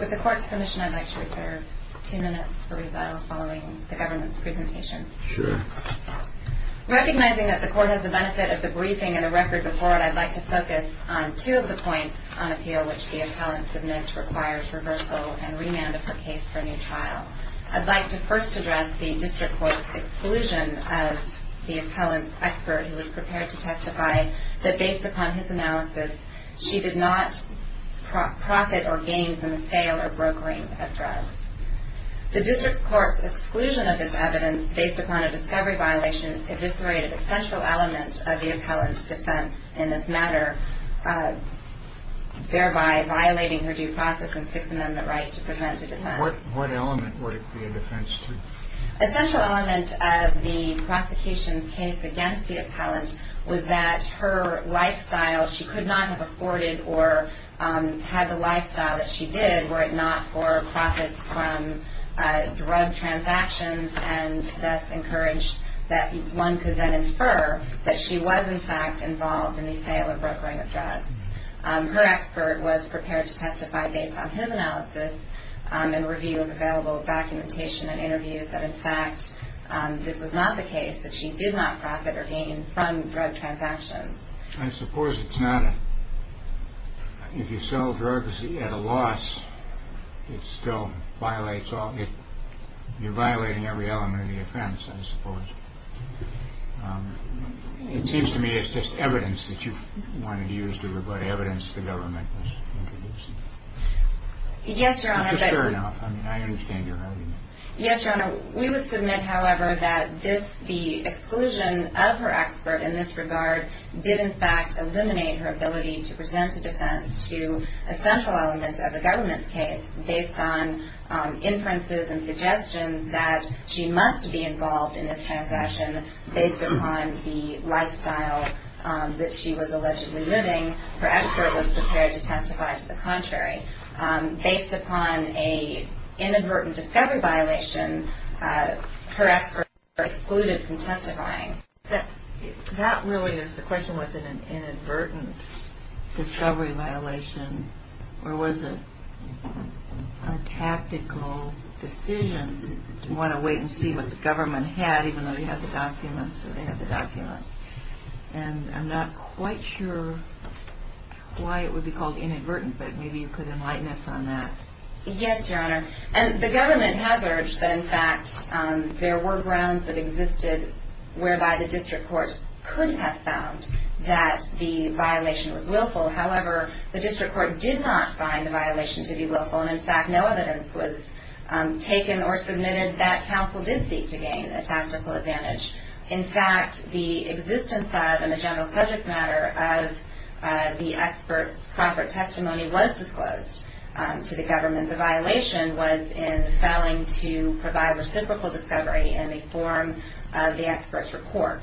With the Court's permission, I'd like to reserve two minutes for rebuttal following the government's presentation. Recognizing that the Court has the benefit of the briefing and a record before it, I'd like to focus on two of the points on appeal which the appellant submits requires reversal and remand of her case for a new trial. I'd like to first address the District Court's exclusion of the appellant's expert who was prepared to testify that, based upon his analysis, she did not profit or gain from the sale or brokering of drugs. The District Court's exclusion of this evidence based upon a discovery violation eviscerated a central element of the appellant's defense in this matter, thereby violating her due process and Sixth Amendment right to present a defense. What element would it be a defense to? A central element of the prosecution's case against the appellant was that her lifestyle, she could not have afforded or had the lifestyle that she did were it not for profits from drug transactions and thus encouraged that one could then infer that she was in fact involved in the sale or brokering of drugs. Her expert was prepared to testify based on his analysis and review of available documentation and interviews that, in fact, this was not the case, that she did not profit or gain from drug transactions. I suppose it's not a – if you sell drugs at a loss, it still violates – you're violating every element of the offense, I suppose. It seems to me it's just evidence that you wanted to use to – evidence the government was introducing. Yes, Your Honor, but – Just fair enough. I mean, I understand your argument. Yes, Your Honor, we would submit, however, that this – the exclusion of her expert in this regard did, in fact, eliminate her ability to present a defense to a central element of the government's case based on inferences and suggestions that she must be involved in this transaction based upon the lifestyle that she was allegedly living. Her expert was prepared to testify to the contrary. Based upon an inadvertent discovery violation, her expert was excluded from testifying. That really is the question. Was it an inadvertent discovery violation, or was it a tactical decision to want to wait and see what the government had, even though you have the documents, or they have the documents? And I'm not quite sure why it would be called inadvertent, but maybe you could enlighten us on that. Yes, Your Honor, and the government has urged that, in fact, there were grounds that existed whereby the district court could have found that the violation was willful. However, the district court did not find the violation to be willful, and, in fact, no evidence was taken or submitted that counsel did seek to gain a tactical advantage. In fact, the existence of and the general subject matter of the expert's proper testimony was disclosed to the government. The violation was in failing to provide reciprocal discovery in the form of the expert's report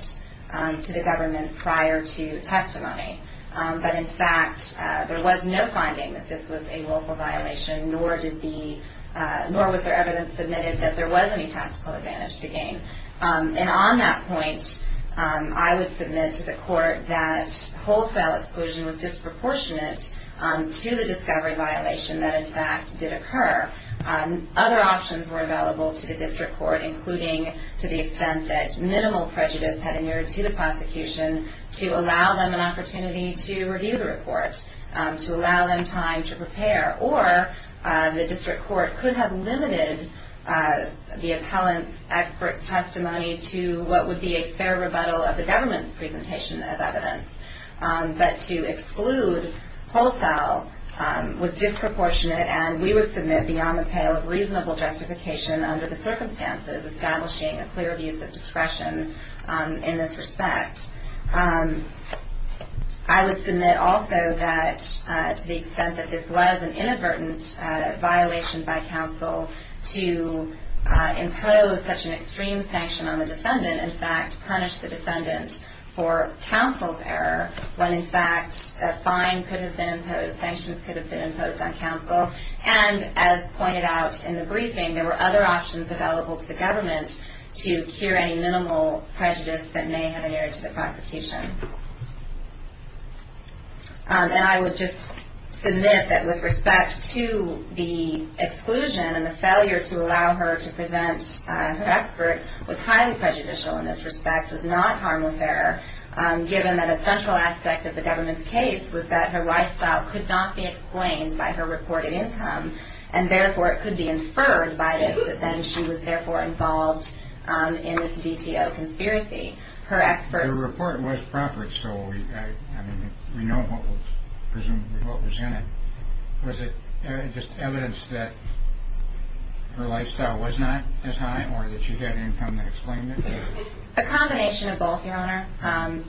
to the government prior to testimony. But, in fact, there was no finding that this was a willful violation, nor was there evidence submitted that there was any tactical advantage to gain. And on that point, I would submit to the court that wholesale exclusion was disproportionate to the discovery violation that, in fact, did occur. Other options were available to the district court, including to the extent that minimal prejudice had inured to the prosecution to allow them an opportunity to review the report, to allow them time to prepare, or the district court could have limited the appellant's expert's testimony to what would be a fair rebuttal of the government's presentation of evidence. But to exclude wholesale was disproportionate, and we would submit beyond the pale of reasonable justification under the circumstances establishing a clear abuse of discretion in this respect. I would submit also that to the extent that this was an inadvertent violation by counsel to impose such an extreme sanction on the defendant, in fact, punish the defendant for counsel's error when, in fact, a fine could have been imposed, sanctions could have been imposed on counsel. And, as pointed out in the briefing, there were other options available to the government to cure any minimal prejudice that may have inured to the prosecution. And I would just submit that with respect to the exclusion and the failure to allow her to present her expert was highly prejudicial in this respect, was not harmless error, given that a central aspect of the government's case was that her lifestyle could not be exclaimed by her reported income, and, therefore, it could be inferred by this that then she was, therefore, involved in this DTO conspiracy. The report was proper, so we know what was in it. Was it just evidence that her lifestyle was not as high or that she had an income that exclaimed it? A combination of both, Your Honor.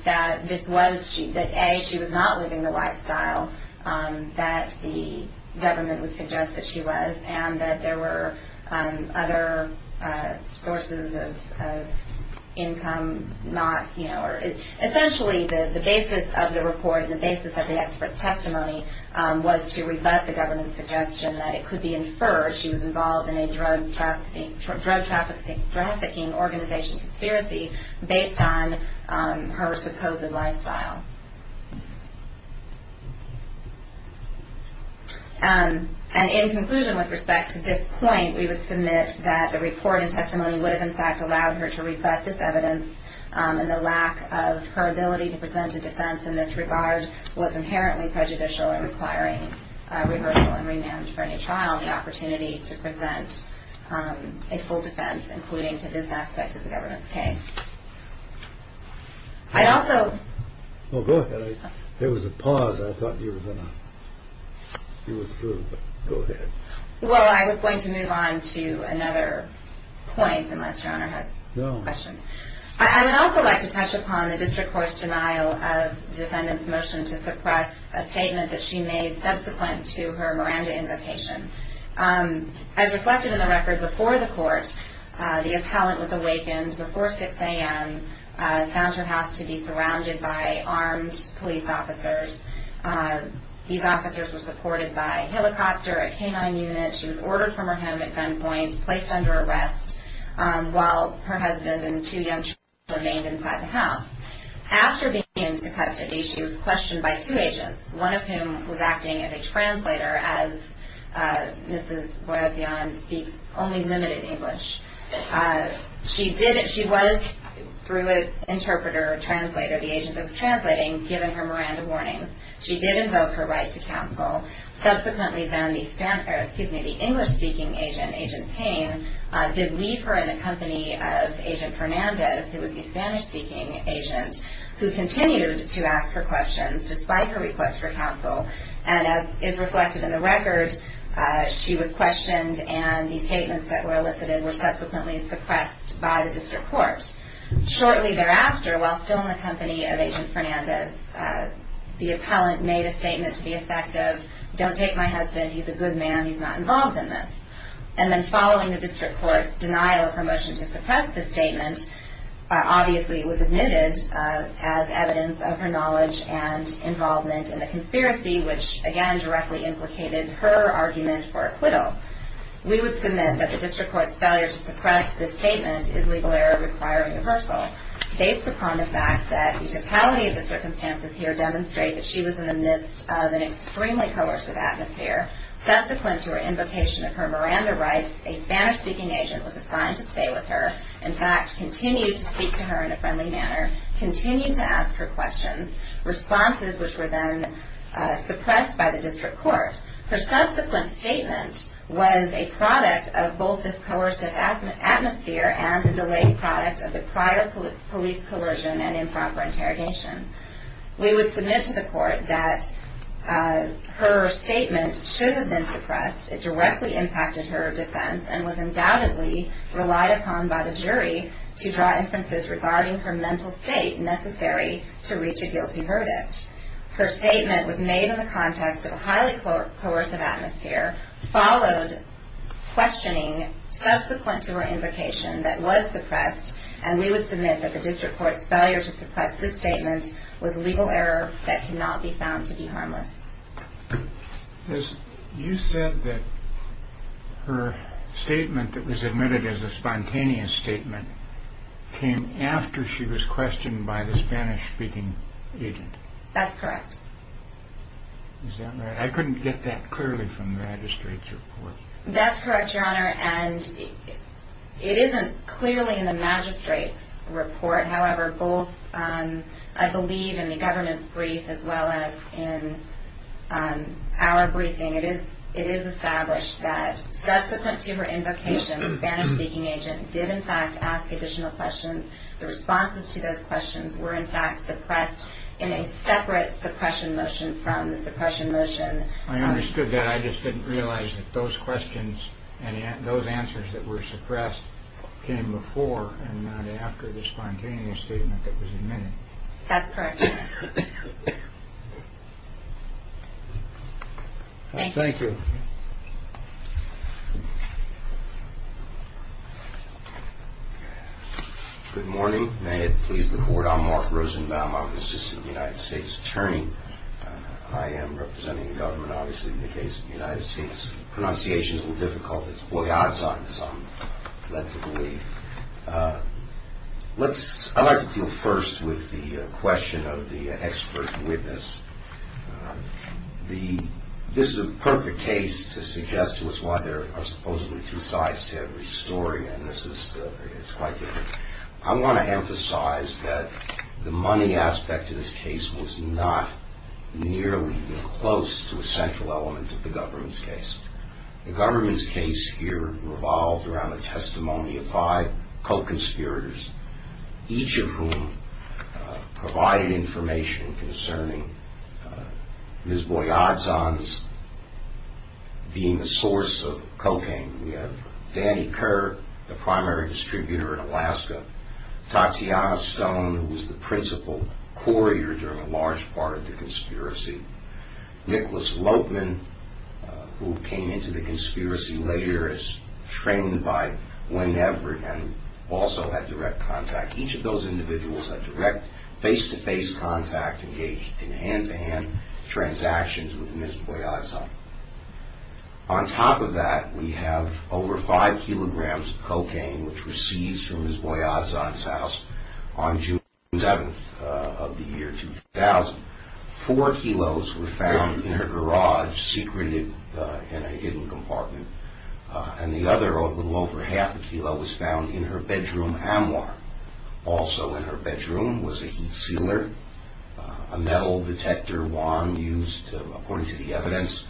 That this was that, A, she was not living the lifestyle that the government would suggest that she was, and that there were other sources of income not, you know, or essentially the basis of the report, the basis of the expert's testimony was to rebut the government's suggestion that it could be inferred that she was involved in a drug trafficking organization conspiracy based on her supposed lifestyle. And in conclusion, with respect to this point, we would submit that the report and testimony would have, in fact, allowed her to reflect this evidence, and the lack of her ability to present a defense in this regard was inherently prejudicial and requiring a reversal and remand for any trial the opportunity to present a full defense, including to this aspect of the government's case. I'd also. Oh, go ahead. There was a pause. I thought you were going to. You were through, but go ahead. Well, I was going to move on to another point, unless Your Honor has a question. No. The District Court's denial of defendant's motion to suppress a statement that she made subsequent to her Miranda invocation. As reflected in the record before the court, the appellant was awakened before 6 a.m., found her house to be surrounded by armed police officers. These officers were supported by a helicopter, a K-9 unit. She was ordered from her home at gunpoint, placed under arrest, while her husband and two young children remained inside the house. After being taken into custody, she was questioned by two agents, one of whom was acting as a translator as Mrs. Boyle-Dion speaks only limited English. She was, through an interpreter or translator, the agent that was translating, given her Miranda warnings. She did invoke her right to counsel. Subsequently, then, the English-speaking agent, Agent Payne, did leave her in the company of Agent Fernandez, who was the Spanish-speaking agent, who continued to ask her questions despite her request for counsel. And as is reflected in the record, she was questioned, and the statements that were elicited were subsequently suppressed by the District Court. Shortly thereafter, while still in the company of Agent Fernandez, the appellant made a statement to the effect of, don't take my husband, he's a good man, he's not involved in this. And then, following the District Court's denial of her motion to suppress the statement, obviously it was admitted as evidence of her knowledge and involvement in the conspiracy, which, again, directly implicated her argument for acquittal. We would submit that the District Court's failure to suppress the statement is legal error requiring reversal, based upon the fact that the totality of the circumstances here demonstrate that she was in the midst of an extremely coercive atmosphere. Subsequent to her invocation of her Miranda rights, a Spanish-speaking agent was assigned to stay with her, in fact, continue to speak to her in a friendly manner, continue to ask her questions, responses which were then suppressed by the District Court. Her subsequent statement was a product of both this coercive atmosphere and a delayed product of the prior police coercion and improper interrogation. We would submit to the Court that her statement should have been suppressed. It directly impacted her defense and was undoubtedly relied upon by the jury to draw inferences regarding her mental state necessary to reach a guilty verdict. Her statement was made in the context of a highly coercive atmosphere, followed questioning subsequent to her invocation that was suppressed, and we would submit that the District Court's failure to suppress this statement was legal error that cannot be found to be harmless. You said that her statement that was admitted as a spontaneous statement came after she was questioned by the Spanish-speaking agent. That's correct. Is that right? I couldn't get that clearly from the magistrate's report. That's correct, Your Honor, and it isn't clearly in the magistrate's report. However, both I believe in the government's brief as well as in our briefing, it is established that subsequent to her invocation, the Spanish-speaking agent did in fact ask additional questions. The responses to those questions were in fact suppressed in a separate suppression motion from the suppression motion. I understood that. I just didn't realize that those questions and those answers that were suppressed came before and not after the spontaneous statement that was admitted. That's correct, Your Honor. Thank you. Good morning. May it please the Court. I'm Mark Rosenbaum. I'm the Assistant United States Attorney. I am representing the government, obviously, in the case of the United States. Pronunciation is a little difficult. It's boyazan, as I'm led to believe. I'd like to deal first with the question of the expert witness. This is a perfect case to suggest to us why there are supposedly two sides to every story, and this is quite different. I want to emphasize that the money aspect of this case was not nearly even close to a central element of the government's case. The government's case here revolved around a testimony of five co-conspirators, each of whom provided information concerning Ms. Boyazan's being the source of cocaine. We have Danny Kerr, the primary distributor in Alaska, Tatiana Stone, who was the principal courier during a large part of the conspiracy, Nicholas Lopeman, who came into the conspiracy later as trained by Lynn Everett and also had direct contact. Each of those individuals had direct face-to-face contact, engaged in hand-to-hand transactions with Ms. Boyazan. On top of that, we have over five kilograms of cocaine, which were seized from Ms. Boyazan's house on June 7th of the year 2000. Four kilos were found in her garage, secreted in a hidden compartment, and the other little over half a kilo was found in her bedroom armoire. Also in her bedroom was a heat sealer, a metal detector wand used, according to the evidence,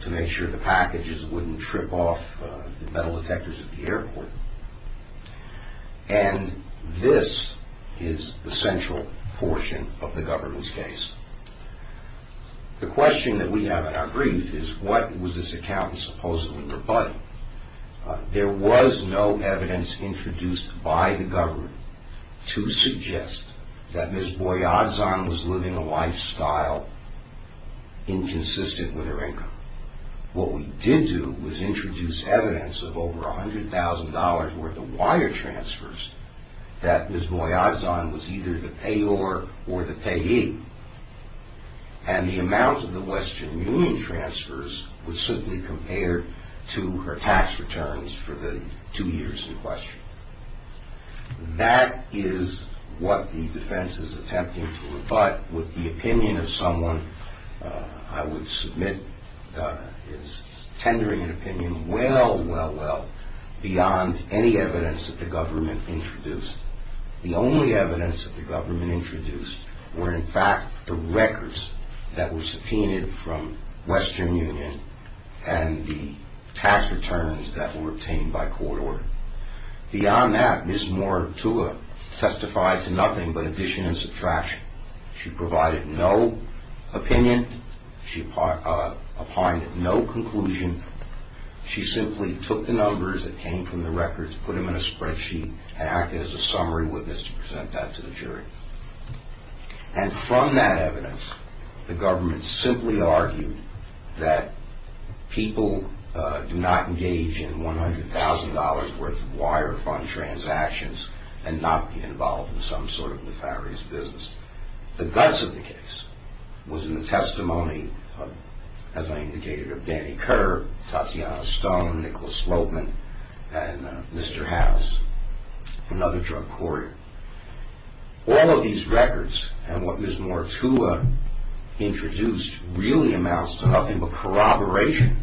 to make sure the packages wouldn't trip off the metal detectors at the airport. And this is the central portion of the government's case. The question that we have in our brief is what was this accountant supposedly rebutting? There was no evidence introduced by the government to suggest that Ms. Boyazan was living a lifestyle inconsistent with her income. What we did do was introduce evidence of over $100,000 worth of wire transfers that Ms. Boyazan was either the payor or the payee, and the amount of the Western Union transfers was simply compared to her tax returns for the two years in question. That is what the defense is attempting to rebut with the opinion of someone, I would submit, is tendering an opinion well, well, well, beyond any evidence that the government introduced. The only evidence that the government introduced were, in fact, the records that were subpoenaed from Western Union and the tax returns that were obtained by court order. Beyond that, Ms. Mortua testified to nothing but addition and subtraction. She provided no opinion. She opined at no conclusion. She simply took the numbers that came from the records, put them in a spreadsheet, and acted as a summary witness to present that to the jury. And from that evidence, the government simply argued that people do not engage in $100,000 worth of wire fund transactions and not be involved in some sort of nefarious business. The guts of the case was in the testimony, as I indicated, of Danny Kerr, Tatiana Stone, Nicholas Loatman, and Mr. House, another drug courier. All of these records and what Ms. Mortua introduced really amounts to nothing but corroboration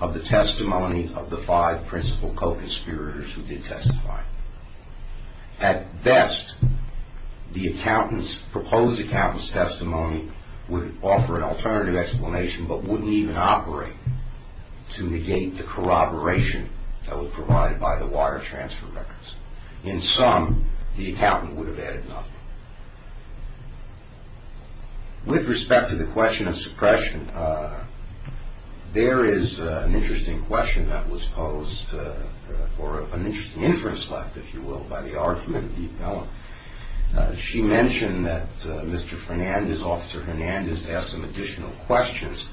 of the testimony of the five principal co-conspirators who did testify. At best, the proposed accountant's testimony would offer an alternative explanation but wouldn't even operate to negate the corroboration that was provided by the wire transfer records. In sum, the accountant would have added nothing. With respect to the question of suppression, there is an interesting question that was posed, or an interesting inference left, if you will, by the argument of Deep Mellon. She mentioned that Mr. Fernandez, Officer Fernandez, asked some additional questions.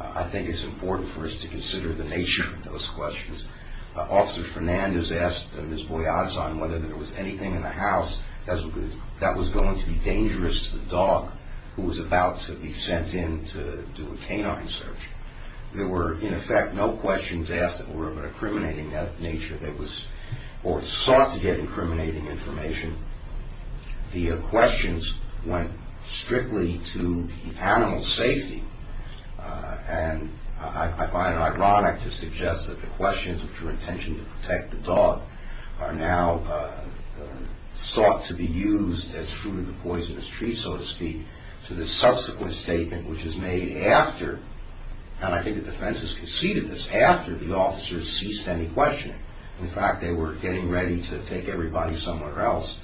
I think it's important for us to consider the nature of those questions. Officer Fernandez asked Ms. Boyazon whether there was anything in the house that was going to be dangerous to the dog who was about to be sent in to do a canine search. There were, in effect, no questions asked that were of an incriminating nature or sought to get incriminating information. The questions went strictly to the animal's safety, and I find it ironic to suggest that the questions which were intended to protect the dog are now sought to be used as fruit of the poisonous tree, so to speak, to the subsequent statement which is made after, and I think the defense has conceded this, after the officers ceased any questioning. In fact, they were getting ready to take everybody somewhere else,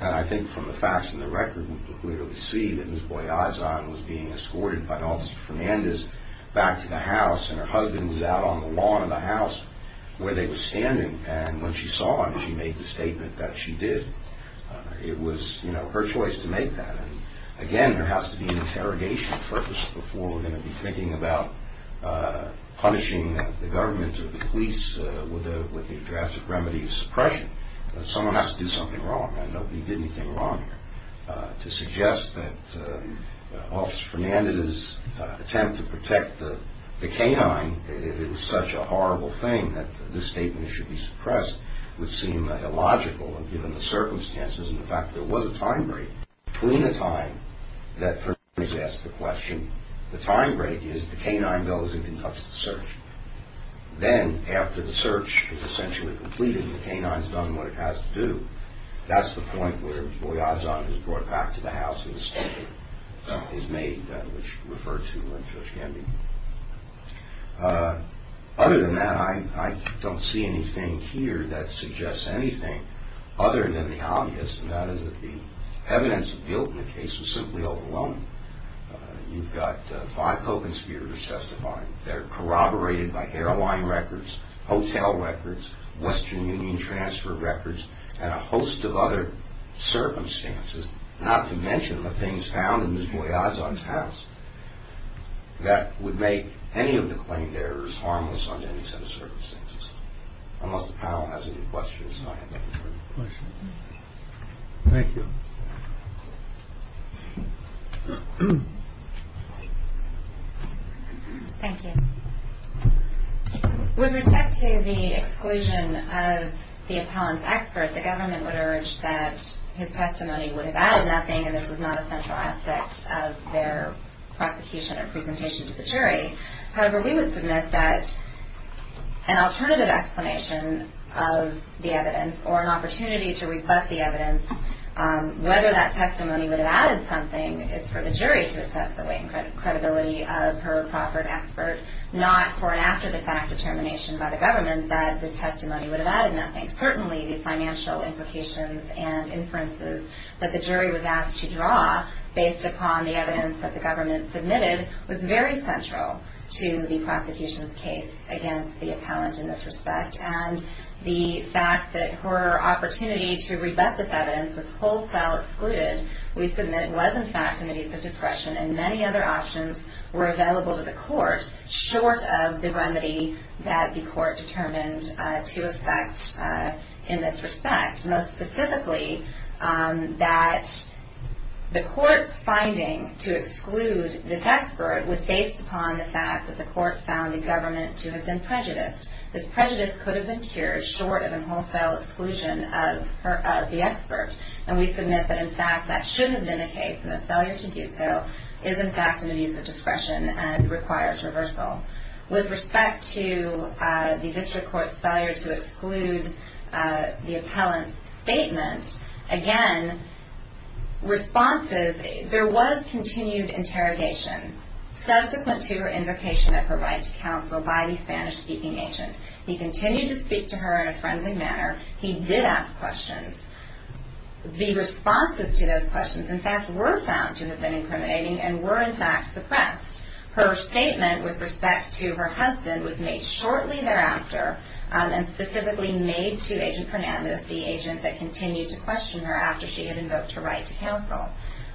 and I think from the facts and the record, we can clearly see that Ms. Boyazon was being escorted by Officer Fernandez back to the house, and her husband was out on the lawn of the house where they were standing, and when she saw him, she made the statement that she did. It was, you know, her choice to make that, and again, there has to be an interrogation purpose before we're going to be thinking about punishing the government or the police with the drastic remedy of suppression. Someone has to do something wrong, and nobody did anything wrong here. To suggest that Officer Fernandez's attempt to protect the canine, it was such a horrible thing that this statement should be suppressed, would seem illogical given the circumstances, and the fact that there was a time break. Between the time that Fernandez asked the question, the time break is the canine goes and conducts the search. Then, after the search is essentially completed, the canine's done what it has to do, that's the point where Ms. Boyazon is brought back to the house, and the statement is made, which referred to when Judge Hemby. Other than that, I don't see anything here that suggests anything other than the obvious, and that is that the evidence built in the case was simply overwhelming. You've got five coven speakers testifying. They're corroborated by airline records, hotel records, Western Union transfer records, and a host of other circumstances, not to mention the things found in Ms. Boyazon's house that would make any of the claimed errors harmless under any set of circumstances. Unless the panel has any questions, I have no further questions. Thank you. Thank you. With respect to the exclusion of the appellant's expert, the government would urge that his testimony would have added nothing, and this was not a central aspect of their prosecution or presentation to the jury. However, we would submit that an alternative explanation of the evidence or an opportunity to reflect the evidence, whether that testimony would have added something, is for the jury to assess the weight and credibility of her proper expert, not for an after-the-fact determination by the government that this testimony would have added nothing. Certainly, the financial implications and inferences that the jury was asked to draw based upon the evidence that the government submitted was very central to the prosecution's case against the appellant in this respect, and the fact that her opportunity to rebut this evidence was wholesale excluded, we submit, was in fact an abuse of discretion, and many other options were available to the court short of the remedy that the court determined to effect in this respect. Most specifically, that the court's finding to exclude this expert was based upon the fact that the court found the government to have been prejudiced. This prejudice could have been cured short of a wholesale exclusion of the expert, and we submit that, in fact, that should have been the case, and a failure to do so is, in fact, an abuse of discretion and requires reversal. With respect to the district court's failure to exclude the appellant's statement, again, responses, there was continued interrogation subsequent to her invocation at her right to counsel by the Spanish-speaking agent. He continued to speak to her in a frenzied manner. He did ask questions. The responses to those questions, in fact, were found to have been incriminating and were, in fact, suppressed. Her statement with respect to her husband was made shortly thereafter and specifically made to Agent Fernandez, the agent that continued to question her after she had invoked her right to counsel.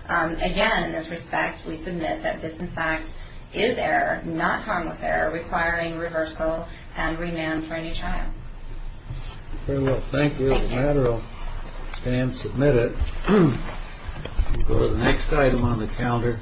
Again, in this respect, we submit that this, in fact, is error, not harmless error, requiring reversal and remand for a new trial. Well, thank you. And submit it. Go to the next item on the calendar.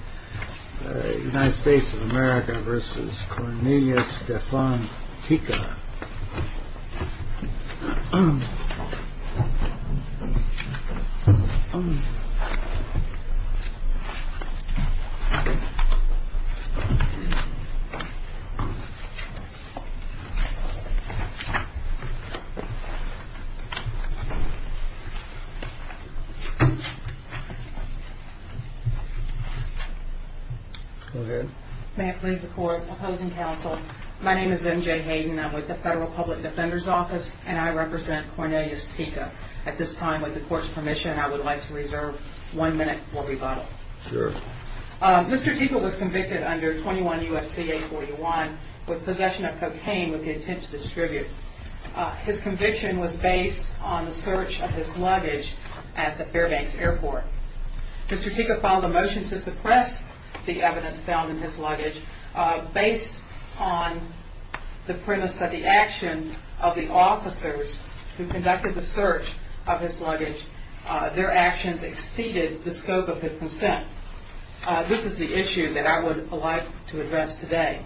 Go ahead. May it please the Court. Opposing counsel, my name is MJ Hayden. I'm with the Federal Public Defender's Office, and I represent Cornelius Tico. At this time, with the Court's permission, I would like to reserve one minute for rebuttal. Sure. Mr. Tico was convicted under 21 U.S.C. 841 with possession of cocaine with the intent to distribute. His conviction was based on the search of his luggage at the Fairbanks Airport. Mr. Tico filed a motion to suppress the evidence found in his luggage based on the premise that the action of the officers who conducted the search of his luggage, their actions exceeded the scope of his consent. This is the issue that I would like to address today.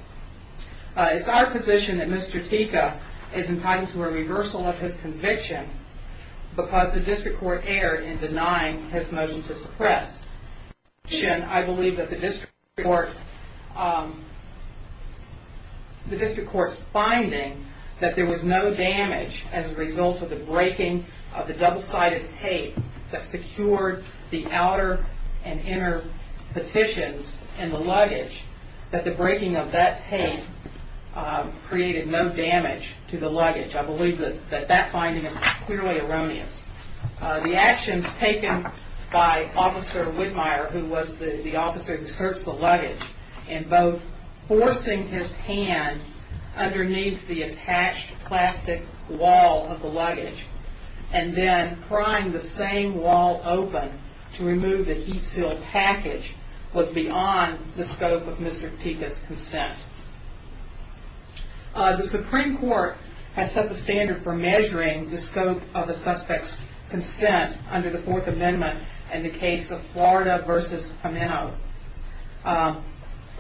It's our position that Mr. Tico is entitled to a reversal of his conviction because the district court erred in denying his motion to suppress. In addition, I believe that the district court's finding that there was no damage as a result of the breaking of the double-sided tape that secured the outer and inner petitions in the luggage, that the breaking of that tape created no damage to the luggage. I believe that that finding is clearly erroneous. The actions taken by Officer Whitmire, who was the officer who searched the luggage, in both forcing his hand underneath the attached plastic wall of the luggage and then prying the same wall open to remove the heat-sealed package was beyond the scope of Mr. Tico's consent. The Supreme Court has set the standard for measuring the scope of a suspect's consent under the Fourth Amendment in the case of Florida v. Ameno.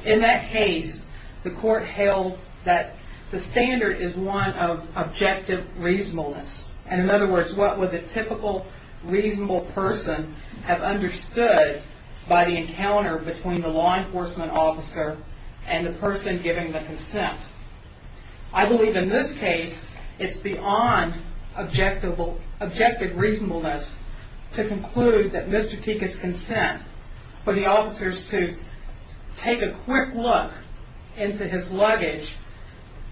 In that case, the court held that the standard is one of objective reasonableness. And in other words, what would the typical reasonable person have understood by the encounter between the law enforcement officer and the person giving the consent? I believe in this case, it's beyond objective reasonableness to conclude that Mr. Tico's consent for the officers to take a quick look into his luggage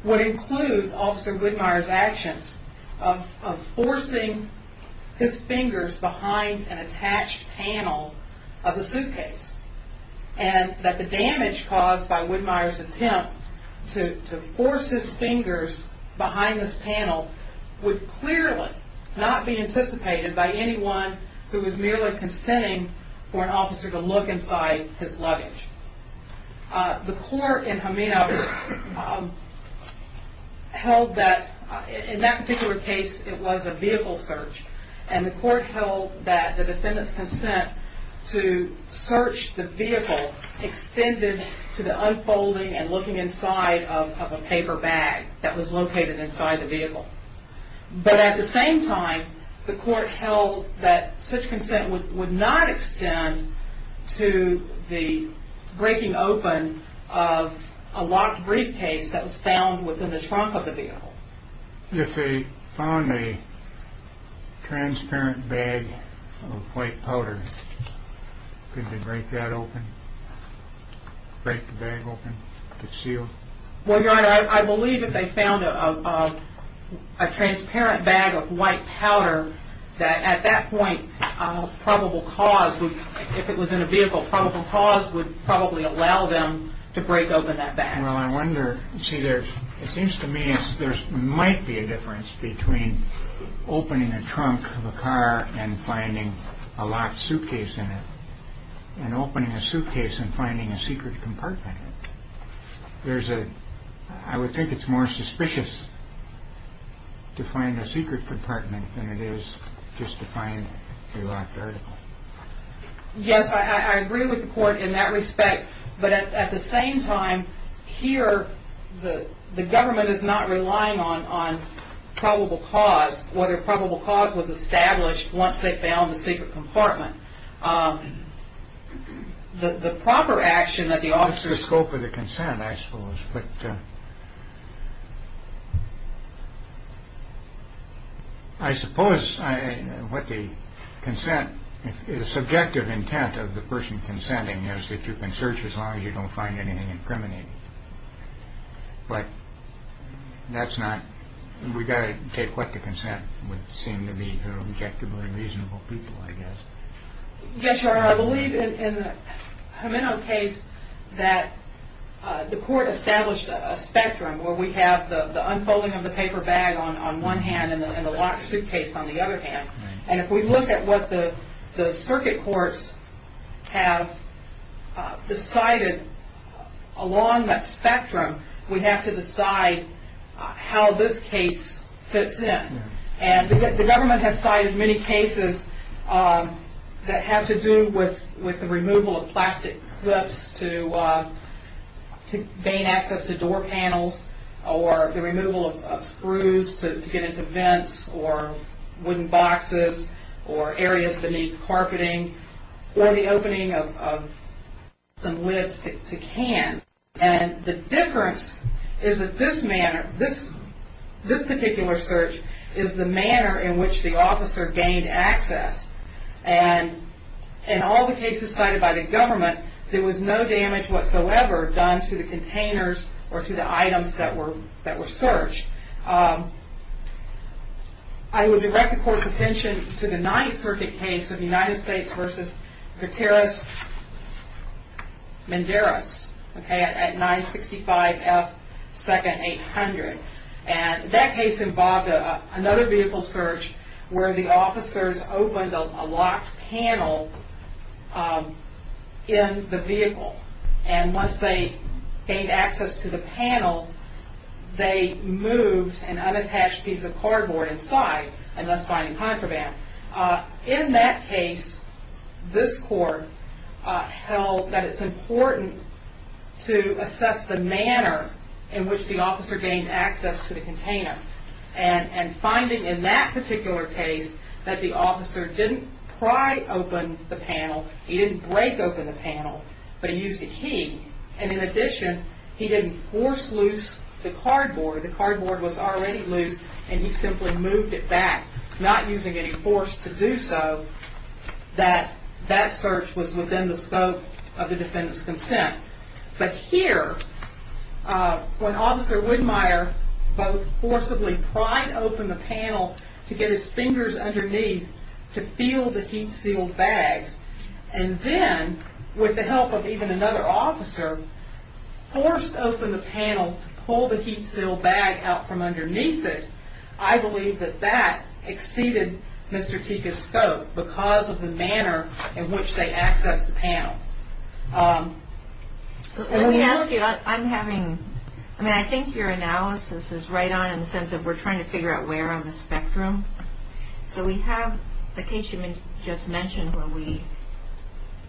would include Officer Whitmire's actions of forcing his fingers behind an attached panel of the suitcase and that the damage caused by Whitmire's attempt to force his fingers behind this panel would clearly not be anticipated by anyone who was merely consenting for an officer to look inside his luggage. The court in Ameno held that, in that particular case, it was a vehicle search, and the court held that the defendant's consent to search the vehicle extended to the unfolding and looking inside of a paper bag that was located inside the vehicle. But at the same time, the court held that such consent would not extend to the breaking open of a locked briefcase that was found within the trunk of the vehicle. If they found a transparent bag of white powder, could they break that open? Break the bag open? Well, Your Honor, I believe if they found a transparent bag of white powder, that at that point, probable cause, if it was in a vehicle, probable cause would probably allow them to break open that bag. Well, I wonder, you see, it seems to me there might be a difference between opening a trunk of a car and finding a locked suitcase in it and opening a suitcase and finding a secret compartment in it. I would think it's more suspicious to find a secret compartment than it is just to find a locked article. Yes, I agree with the court in that respect. But at the same time, here, the government is not relying on probable cause, whether probable cause was established once they found the secret compartment. The proper action that the officers... It's the scope of the consent, I suppose. I suppose what the consent, the subjective intent of the person consenting is that you can search as long as you don't find anything incriminating. But that's not... We've got to take what the consent would seem to be for objectively reasonable people, I guess. Yes, Your Honor. I believe in the Jimeno case that the court established a spectrum where we have the unfolding of the paper bag on one hand and the locked suitcase on the other hand. And if we look at what the circuit courts have decided along that spectrum, we have to decide how this case fits in. And the government has cited many cases that have to do with the removal of plastic clips to gain access to door panels or the removal of screws to get into vents or wooden boxes or areas beneath carpeting or the opening of some lids to cans. And the difference is that this manner, this particular search, is the manner in which the officer gained access. And there was no damage whatsoever done to the containers or to the items that were searched. I would direct the court's attention to the Ninth Circuit case of United States v. Gutierrez-Menderes at 965 F. 2nd, 800. And that case involved another vehicle search where the officers opened a locked panel in the vehicle. And once they gained access to the panel, they moved an unattached piece of cardboard inside and thus finding contraband. In that case, this court held that it's important to assess the manner and finding in that particular case that the officer didn't pry open the panel. He didn't break open the panel, but he used a key. And in addition, he didn't force loose the cardboard. The cardboard was already loose, and he simply moved it back, not using any force to do so that that search was within the scope of the defendant's consent. But here, when Officer Widmeyer both forcibly pried open the panel to get his fingers underneath to feel the heat-sealed bags, and then, with the help of even another officer, forced open the panel to pull the heat-sealed bag out from underneath it, I believe that that exceeded Mr. Teika's scope because of the manner in which they accessed the panel. Let me ask you, I'm having, I mean, I think your analysis is right on in the sense that we're trying to figure out where on the spectrum. So we have the case you just mentioned where we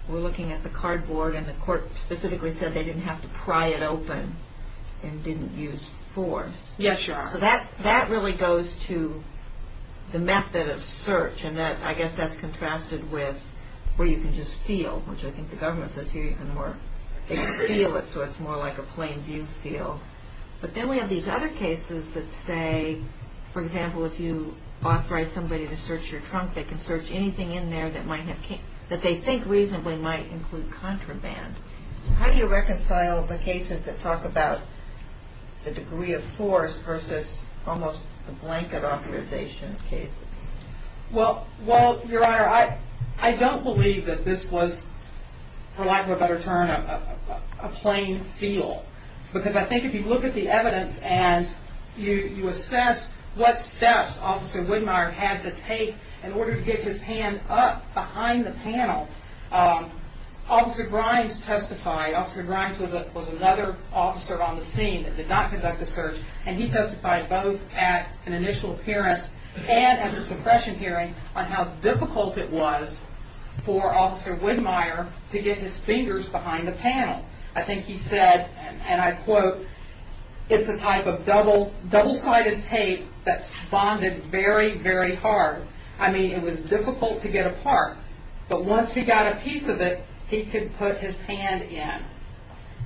were looking at the cardboard, and the court specifically said they didn't have to pry it open and didn't use force. Yes, Your Honor. So that really goes to the method of search, and I guess that's contrasted with where you can just feel, which I think the government says here you can feel it so it's more like a plain view feel. But then we have these other cases that say, for example, if you authorize somebody to search your trunk, they can search anything in there that they think reasonably might include contraband. How do you reconcile the cases that talk about the degree of force versus almost the blanket authorization of cases? Well, Your Honor, I don't believe that this was, for lack of a better term, a plain feel. Because I think if you look at the evidence and you assess what steps Officer Widmeyer had to take in order to get his hand up behind the panel, Officer Grimes testified. Officer Grimes was another officer on the scene that did not conduct the search, and he testified both at an initial appearance and at the suppression hearing on how difficult it was for Officer Widmeyer to get his fingers behind the panel. I think he said, and I quote, it's a type of double-sided tape that's bonded very, very hard. I mean, it was difficult to get apart. But once he got a piece of it, he could put his hand in.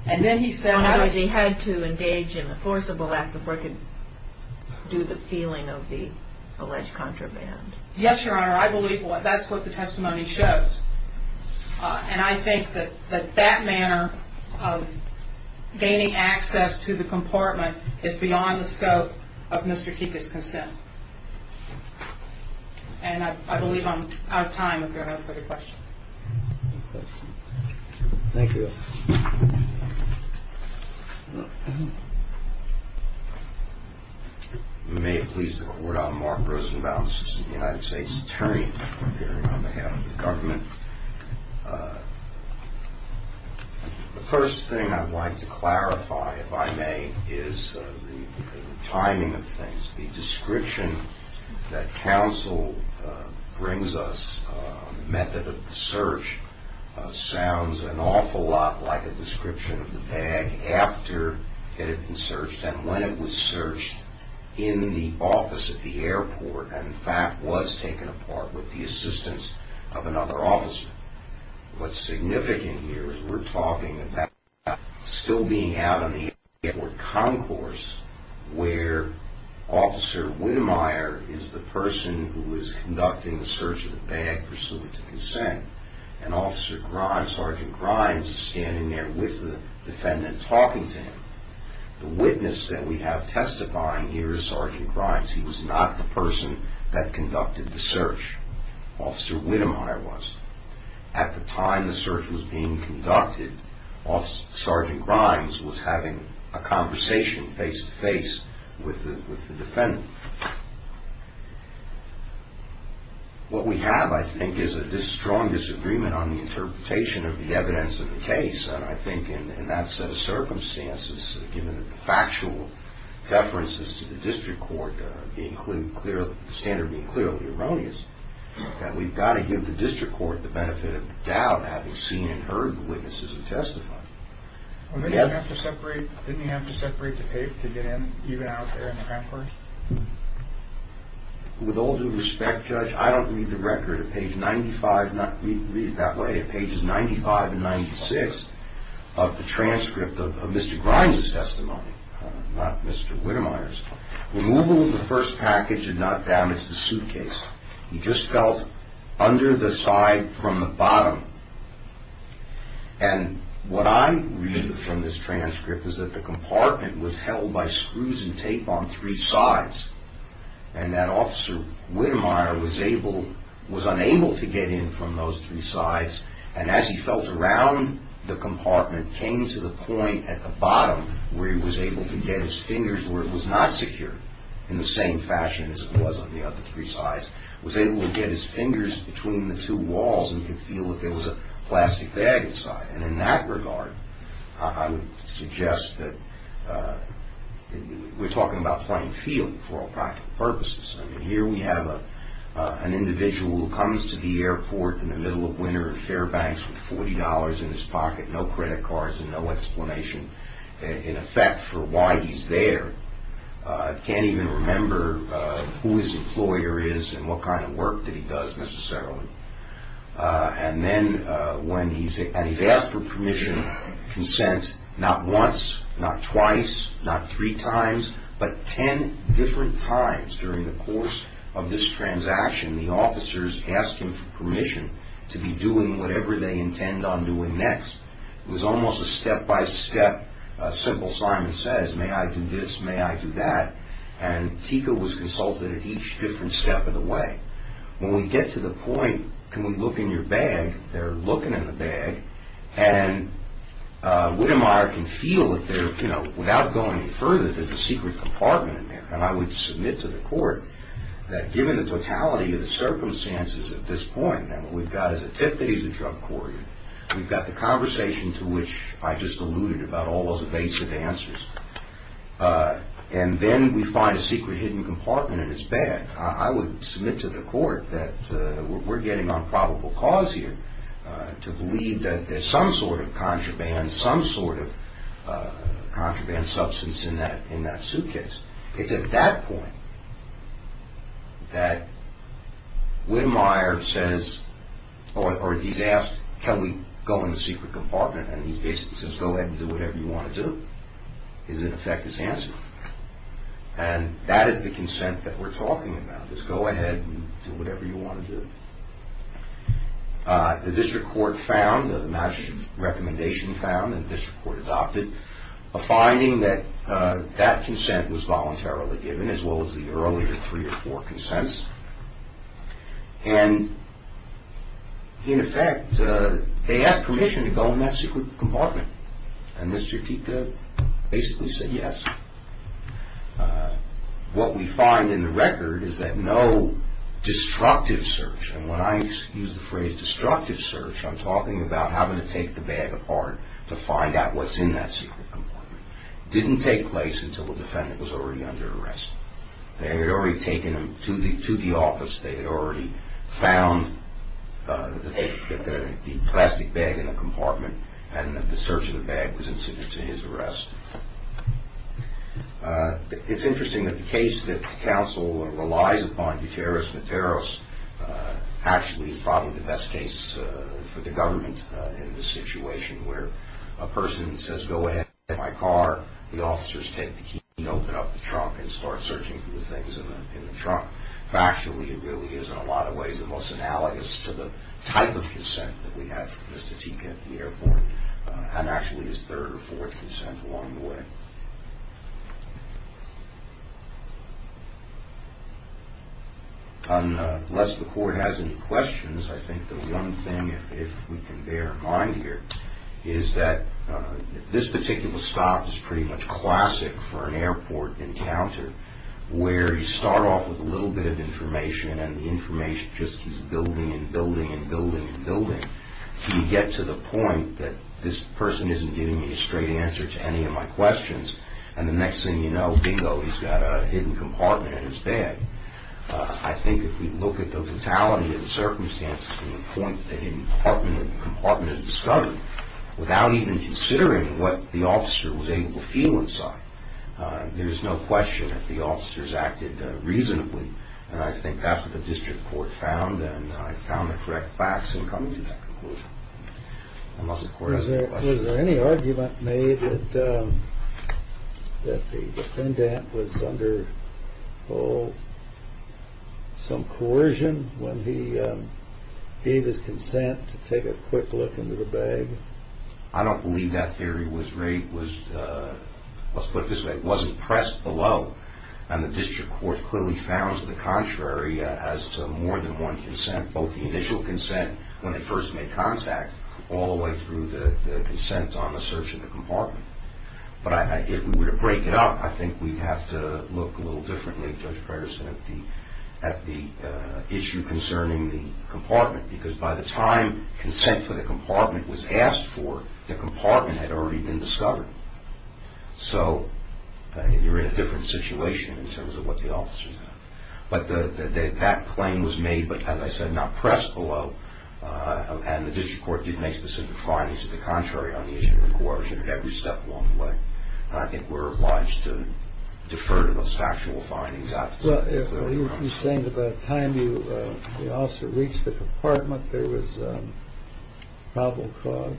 And then he said he had to engage in a forcible act before he could do the feeling of the alleged contraband. Yes, Your Honor, I believe that's what the testimony shows. And I think that that manner of gaining access to the compartment is beyond the scope of Mr. Teika's consent. And I believe I'm out of time, if there are no further questions. Thank you. May it please the Court, I'm Mark Rosenbaum, Assistant to the United States Attorney, appearing on behalf of the government. The first thing I'd like to clarify, if I may, is the timing of things, the description that counsel brings us on the method of the search sounds an awful lot like a description of the bag after it had been searched and when it was searched in the office at the airport and, in fact, was taken apart with the assistance of another officer. What's significant here is we're talking about still being out on the airport concourse where Officer Widemeyer is the person who is conducting the search of the bag pursuant to consent, and Officer Grimes, Sergeant Grimes, is standing there with the defendant talking to him. The witness that we have testifying here is Sergeant Grimes. He was not the person that conducted the search. Officer Widemeyer was. At the time the search was being conducted, Sergeant Grimes was having a conversation face-to-face with the defendant. What we have, I think, is a strong disagreement on the interpretation of the evidence of the case, and I think in that set of circumstances, given the factual deferences to the District Court, the standard being clearly erroneous, that we've got to give the District Court the benefit of the doubt, having seen and heard the witnesses who testified. Didn't he have to separate the tape to get in, even out there in the concourse? With all due respect, Judge, I don't read the record. Read it that way. At pages 95 and 96 of the transcript of Mr. Grimes' testimony, not Mr. Widemeyer's, removal of the first package did not damage the suitcase. He just felt under the side from the bottom, and what I read from this transcript is that the compartment was held by screws and tape on three sides, and that Officer Widemeyer was unable to get in from those three sides, and as he felt around the compartment, came to the point at the bottom where he was able to get his fingers where it was not secure, in the same fashion as it was on the other three sides, was able to get his fingers between the two walls and could feel that there was a plastic bag inside, and in that regard, I would suggest that we're talking about playing field for all practical purposes. Here we have an individual who comes to the airport in the middle of winter in Fairbanks with $40 in his pocket, no credit cards and no explanation in effect for why he's there. Can't even remember who his employer is and what kind of work that he does necessarily, and then when he's asked for permission, consent, not once, not twice, not three times, but ten different times during the course of this transaction, the officers ask him for permission to be doing whatever they intend on doing next. It was almost a step-by-step simple sign that says, may I do this, may I do that, and TICO was consulted at each different step of the way. When we get to the point, can we look in your bag, they're looking in the bag, and Wittemeyer can feel that there, without going any further, there's a secret compartment in there, and I would submit to the court that given the totality of the circumstances at this point, and what we've got is a tip that he's a drug courier, we've got the conversation to which I just alluded about all those evasive answers, and then we find a secret hidden compartment in his bag. I would submit to the court that we're getting on probable cause here to believe that there's some sort of contraband, some sort of contraband substance in that suitcase. It's at that point that Wittemeyer says, or he's asked, can we go in the secret compartment, and he basically says, go ahead and do whatever you want to do, is in effect his answer, and that is the consent that we're talking about, is go ahead and do whatever you want to do. The district court found, the Madison recommendation found, and the district court adopted, a finding that that consent was voluntarily given, as well as the earlier three or four consents, and in effect they asked permission to go in that secret compartment, and this critique basically said yes. What we find in the record is that no destructive search, and when I use the phrase destructive search, I'm talking about having to take the bag apart to find out what's in that secret compartment. It didn't take place until the defendant was already under arrest. They had already taken him to the office. They had already found the plastic bag in the compartment, and the search of the bag was incident to his arrest. It's interesting that the case that counsel relies upon, Duteros-Materos, actually is probably the best case for the government in this situation, where a person says, go ahead, get in my car, the officers take the key and open up the trunk and start searching for the things in the trunk. Factually, it really is, in a lot of ways, the most analogous to the type of consent that we have for Mr. Teek at the airport, and actually his third or fourth consent along the way. Unless the court has any questions, I think the one thing, if we can bear in mind here, is that this particular stop is pretty much classic for an airport encounter, where you start off with a little bit of information, and the information just keeps building and building and building and building, until you get to the point that this person isn't giving you a straight answer to any of my questions, and the next thing you know, bingo, he's got a hidden compartment in his bag. I think if we look at the fatality of the circumstances to the point that the hidden compartment is discovered, without even considering what the officer was able to feel inside, there is no question that the officers acted reasonably, and I think that's what the district court found, and I found the correct facts in coming to that conclusion. Unless the court has any questions. Was there any argument made that the defendant was under some coercion when he gave his consent to take a quick look into the bag? I don't believe that theory was, let's put it this way, and the district court clearly found the contrary as to more than one consent, both the initial consent when they first made contact, all the way through the consent on the search of the compartment. But if we were to break it up, I think we'd have to look a little differently, Judge Preterson, at the issue concerning the compartment, because by the time consent for the compartment was asked for, the compartment had already been discovered. So you're in a different situation in terms of what the officers had. But that claim was made, but as I said, not pressed below, and the district court did make specific findings to the contrary on the issue of coercion at every step along the way, and I think we're obliged to defer to those factual findings. Well, you're saying that by the time the officer reached the compartment, there was a probable cause?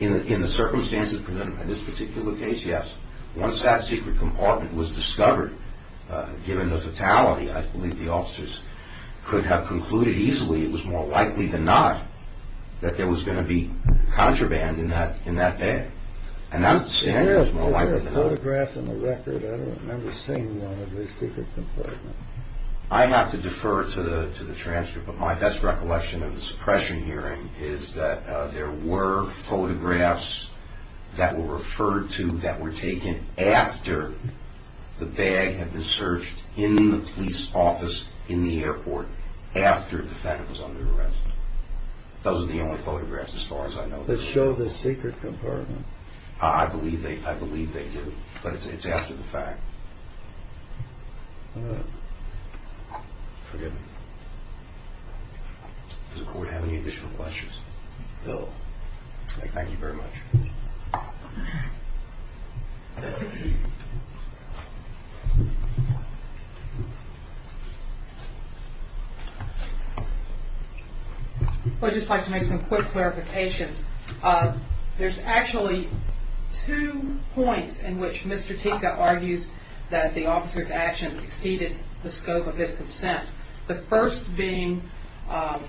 In the circumstances for this particular case, yes. Once that secret compartment was discovered, given the fatality, I believe the officers could have concluded easily, it was more likely than not that there was going to be contraband in that bag. And that's the standard. Was there a photograph in the record? I don't remember seeing one of the secret compartment. I have to defer to the transcript, but my best recollection of the suppression hearing is that there were photographs that were referred to, that were taken after the bag had been searched in the police office, in the airport, after the defendant was under arrest. Those are the only photographs, as far as I know. That show the secret compartment? I believe they do, but it's after the fact. Forgive me. Does the court have any additional questions? No. Thank you very much. I'd just like to make some quick clarifications. There's actually two points in which Mr. Tika argues that the officer's actions exceeded the scope of his consent. The first being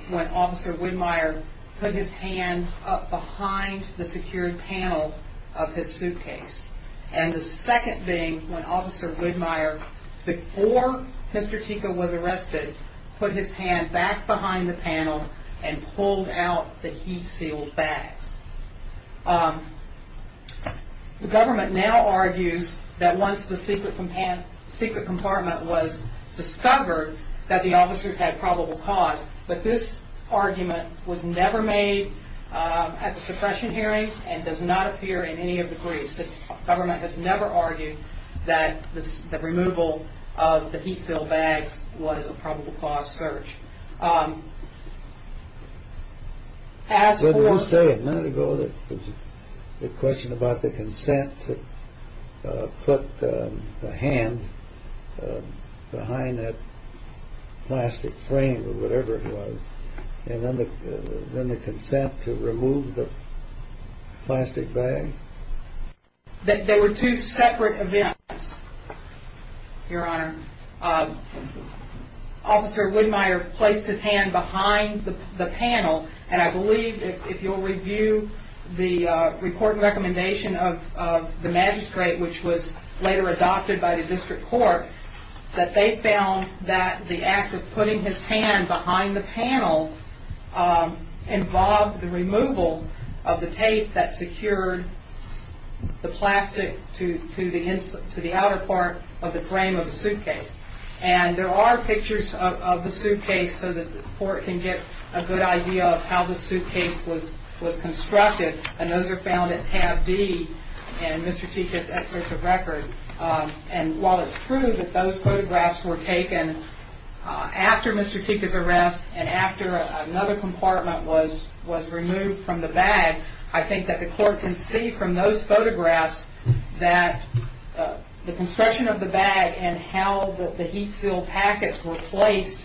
when Officer Widmeyer put his hand up behind the secured panel of his suitcase. And the second being when Officer Widmeyer, before Mr. Tika was arrested, put his hand back behind the panel and pulled out the heat-sealed bags. The government now argues that once the secret compartment was discovered, that the officers had probable cause. But this argument was never made at the suppression hearing and does not appear in any of the briefs. The government has never argued that the removal of the heat-sealed bags was a probable cause search. Senator, you said a minute ago the question about the consent to put the hand behind that plastic frame or whatever it was. And then the consent to remove the plastic bag? They were two separate events, Your Honor. Officer Widmeyer placed his hand behind the panel, and I believe if you'll review the report and recommendation of the magistrate, which was later adopted by the district court, that they found that the act of putting his hand behind the panel involved the removal of the tape that secured the plastic to the outer part of the frame of the suitcase. And there are pictures of the suitcase so that the court can get a good idea of how the suitcase was constructed, and those are found at tab D in Mr. Tika's excerpt of record. And while it's true that those photographs were taken after Mr. Tika's arrest and after another compartment was removed from the bag, I think that the court can see from those photographs that the construction of the bag and how the heat seal packets were placed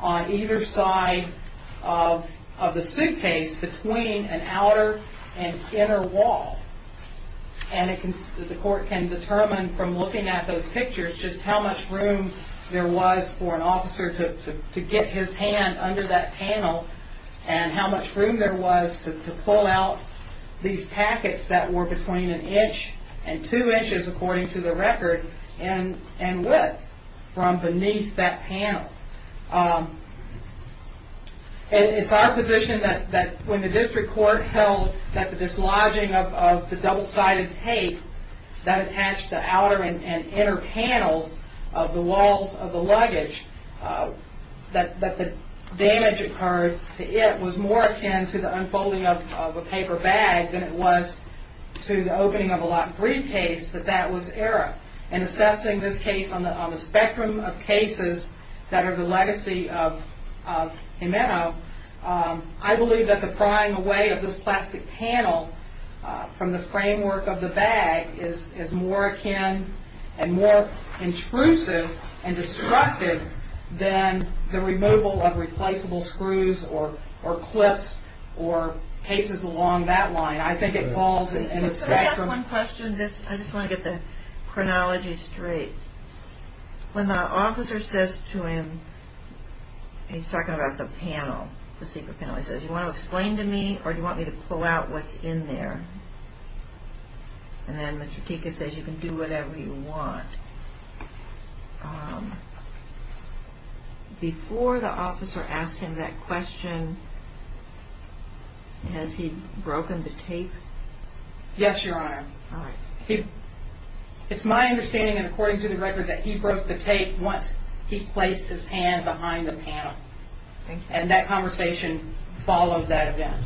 on either side of the suitcase between an outer and inner wall. And the court can determine from looking at those pictures just how much room there was for an officer to get his hand under that panel and how much room there was to pull out these packets that were between an inch and two inches, according to the record, and width from beneath that panel. It's our position that when the district court held that the dislodging of the double-sided tape that attached the outer and inner panels of the walls of the luggage, that the damage occurred to it was more akin to the unfolding of a paper bag than it was to the opening of a locked briefcase, that that was error. And assessing this case on the spectrum of cases that are the legacy of Jimeno, I believe that the prying away of this plastic panel from the framework of the bag is more akin and more intrusive and destructive than the removal of replaceable screws or clips or cases along that line. I think it falls in the spectrum. Can I ask one question? I just want to get the chronology straight. When the officer says to him, he's talking about the panel, the secret panel, he says, Do you want to explain to me or do you want me to pull out what's in there? And then Mr. Teka says you can do whatever you want. Before the officer asked him that question, has he broken the tape? Yes, Your Honor. All right. It's my understanding, and according to the record, that he broke the tape once he placed his hand behind the panel. And that conversation followed that event.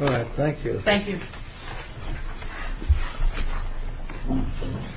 All right. Thank you. Thank you.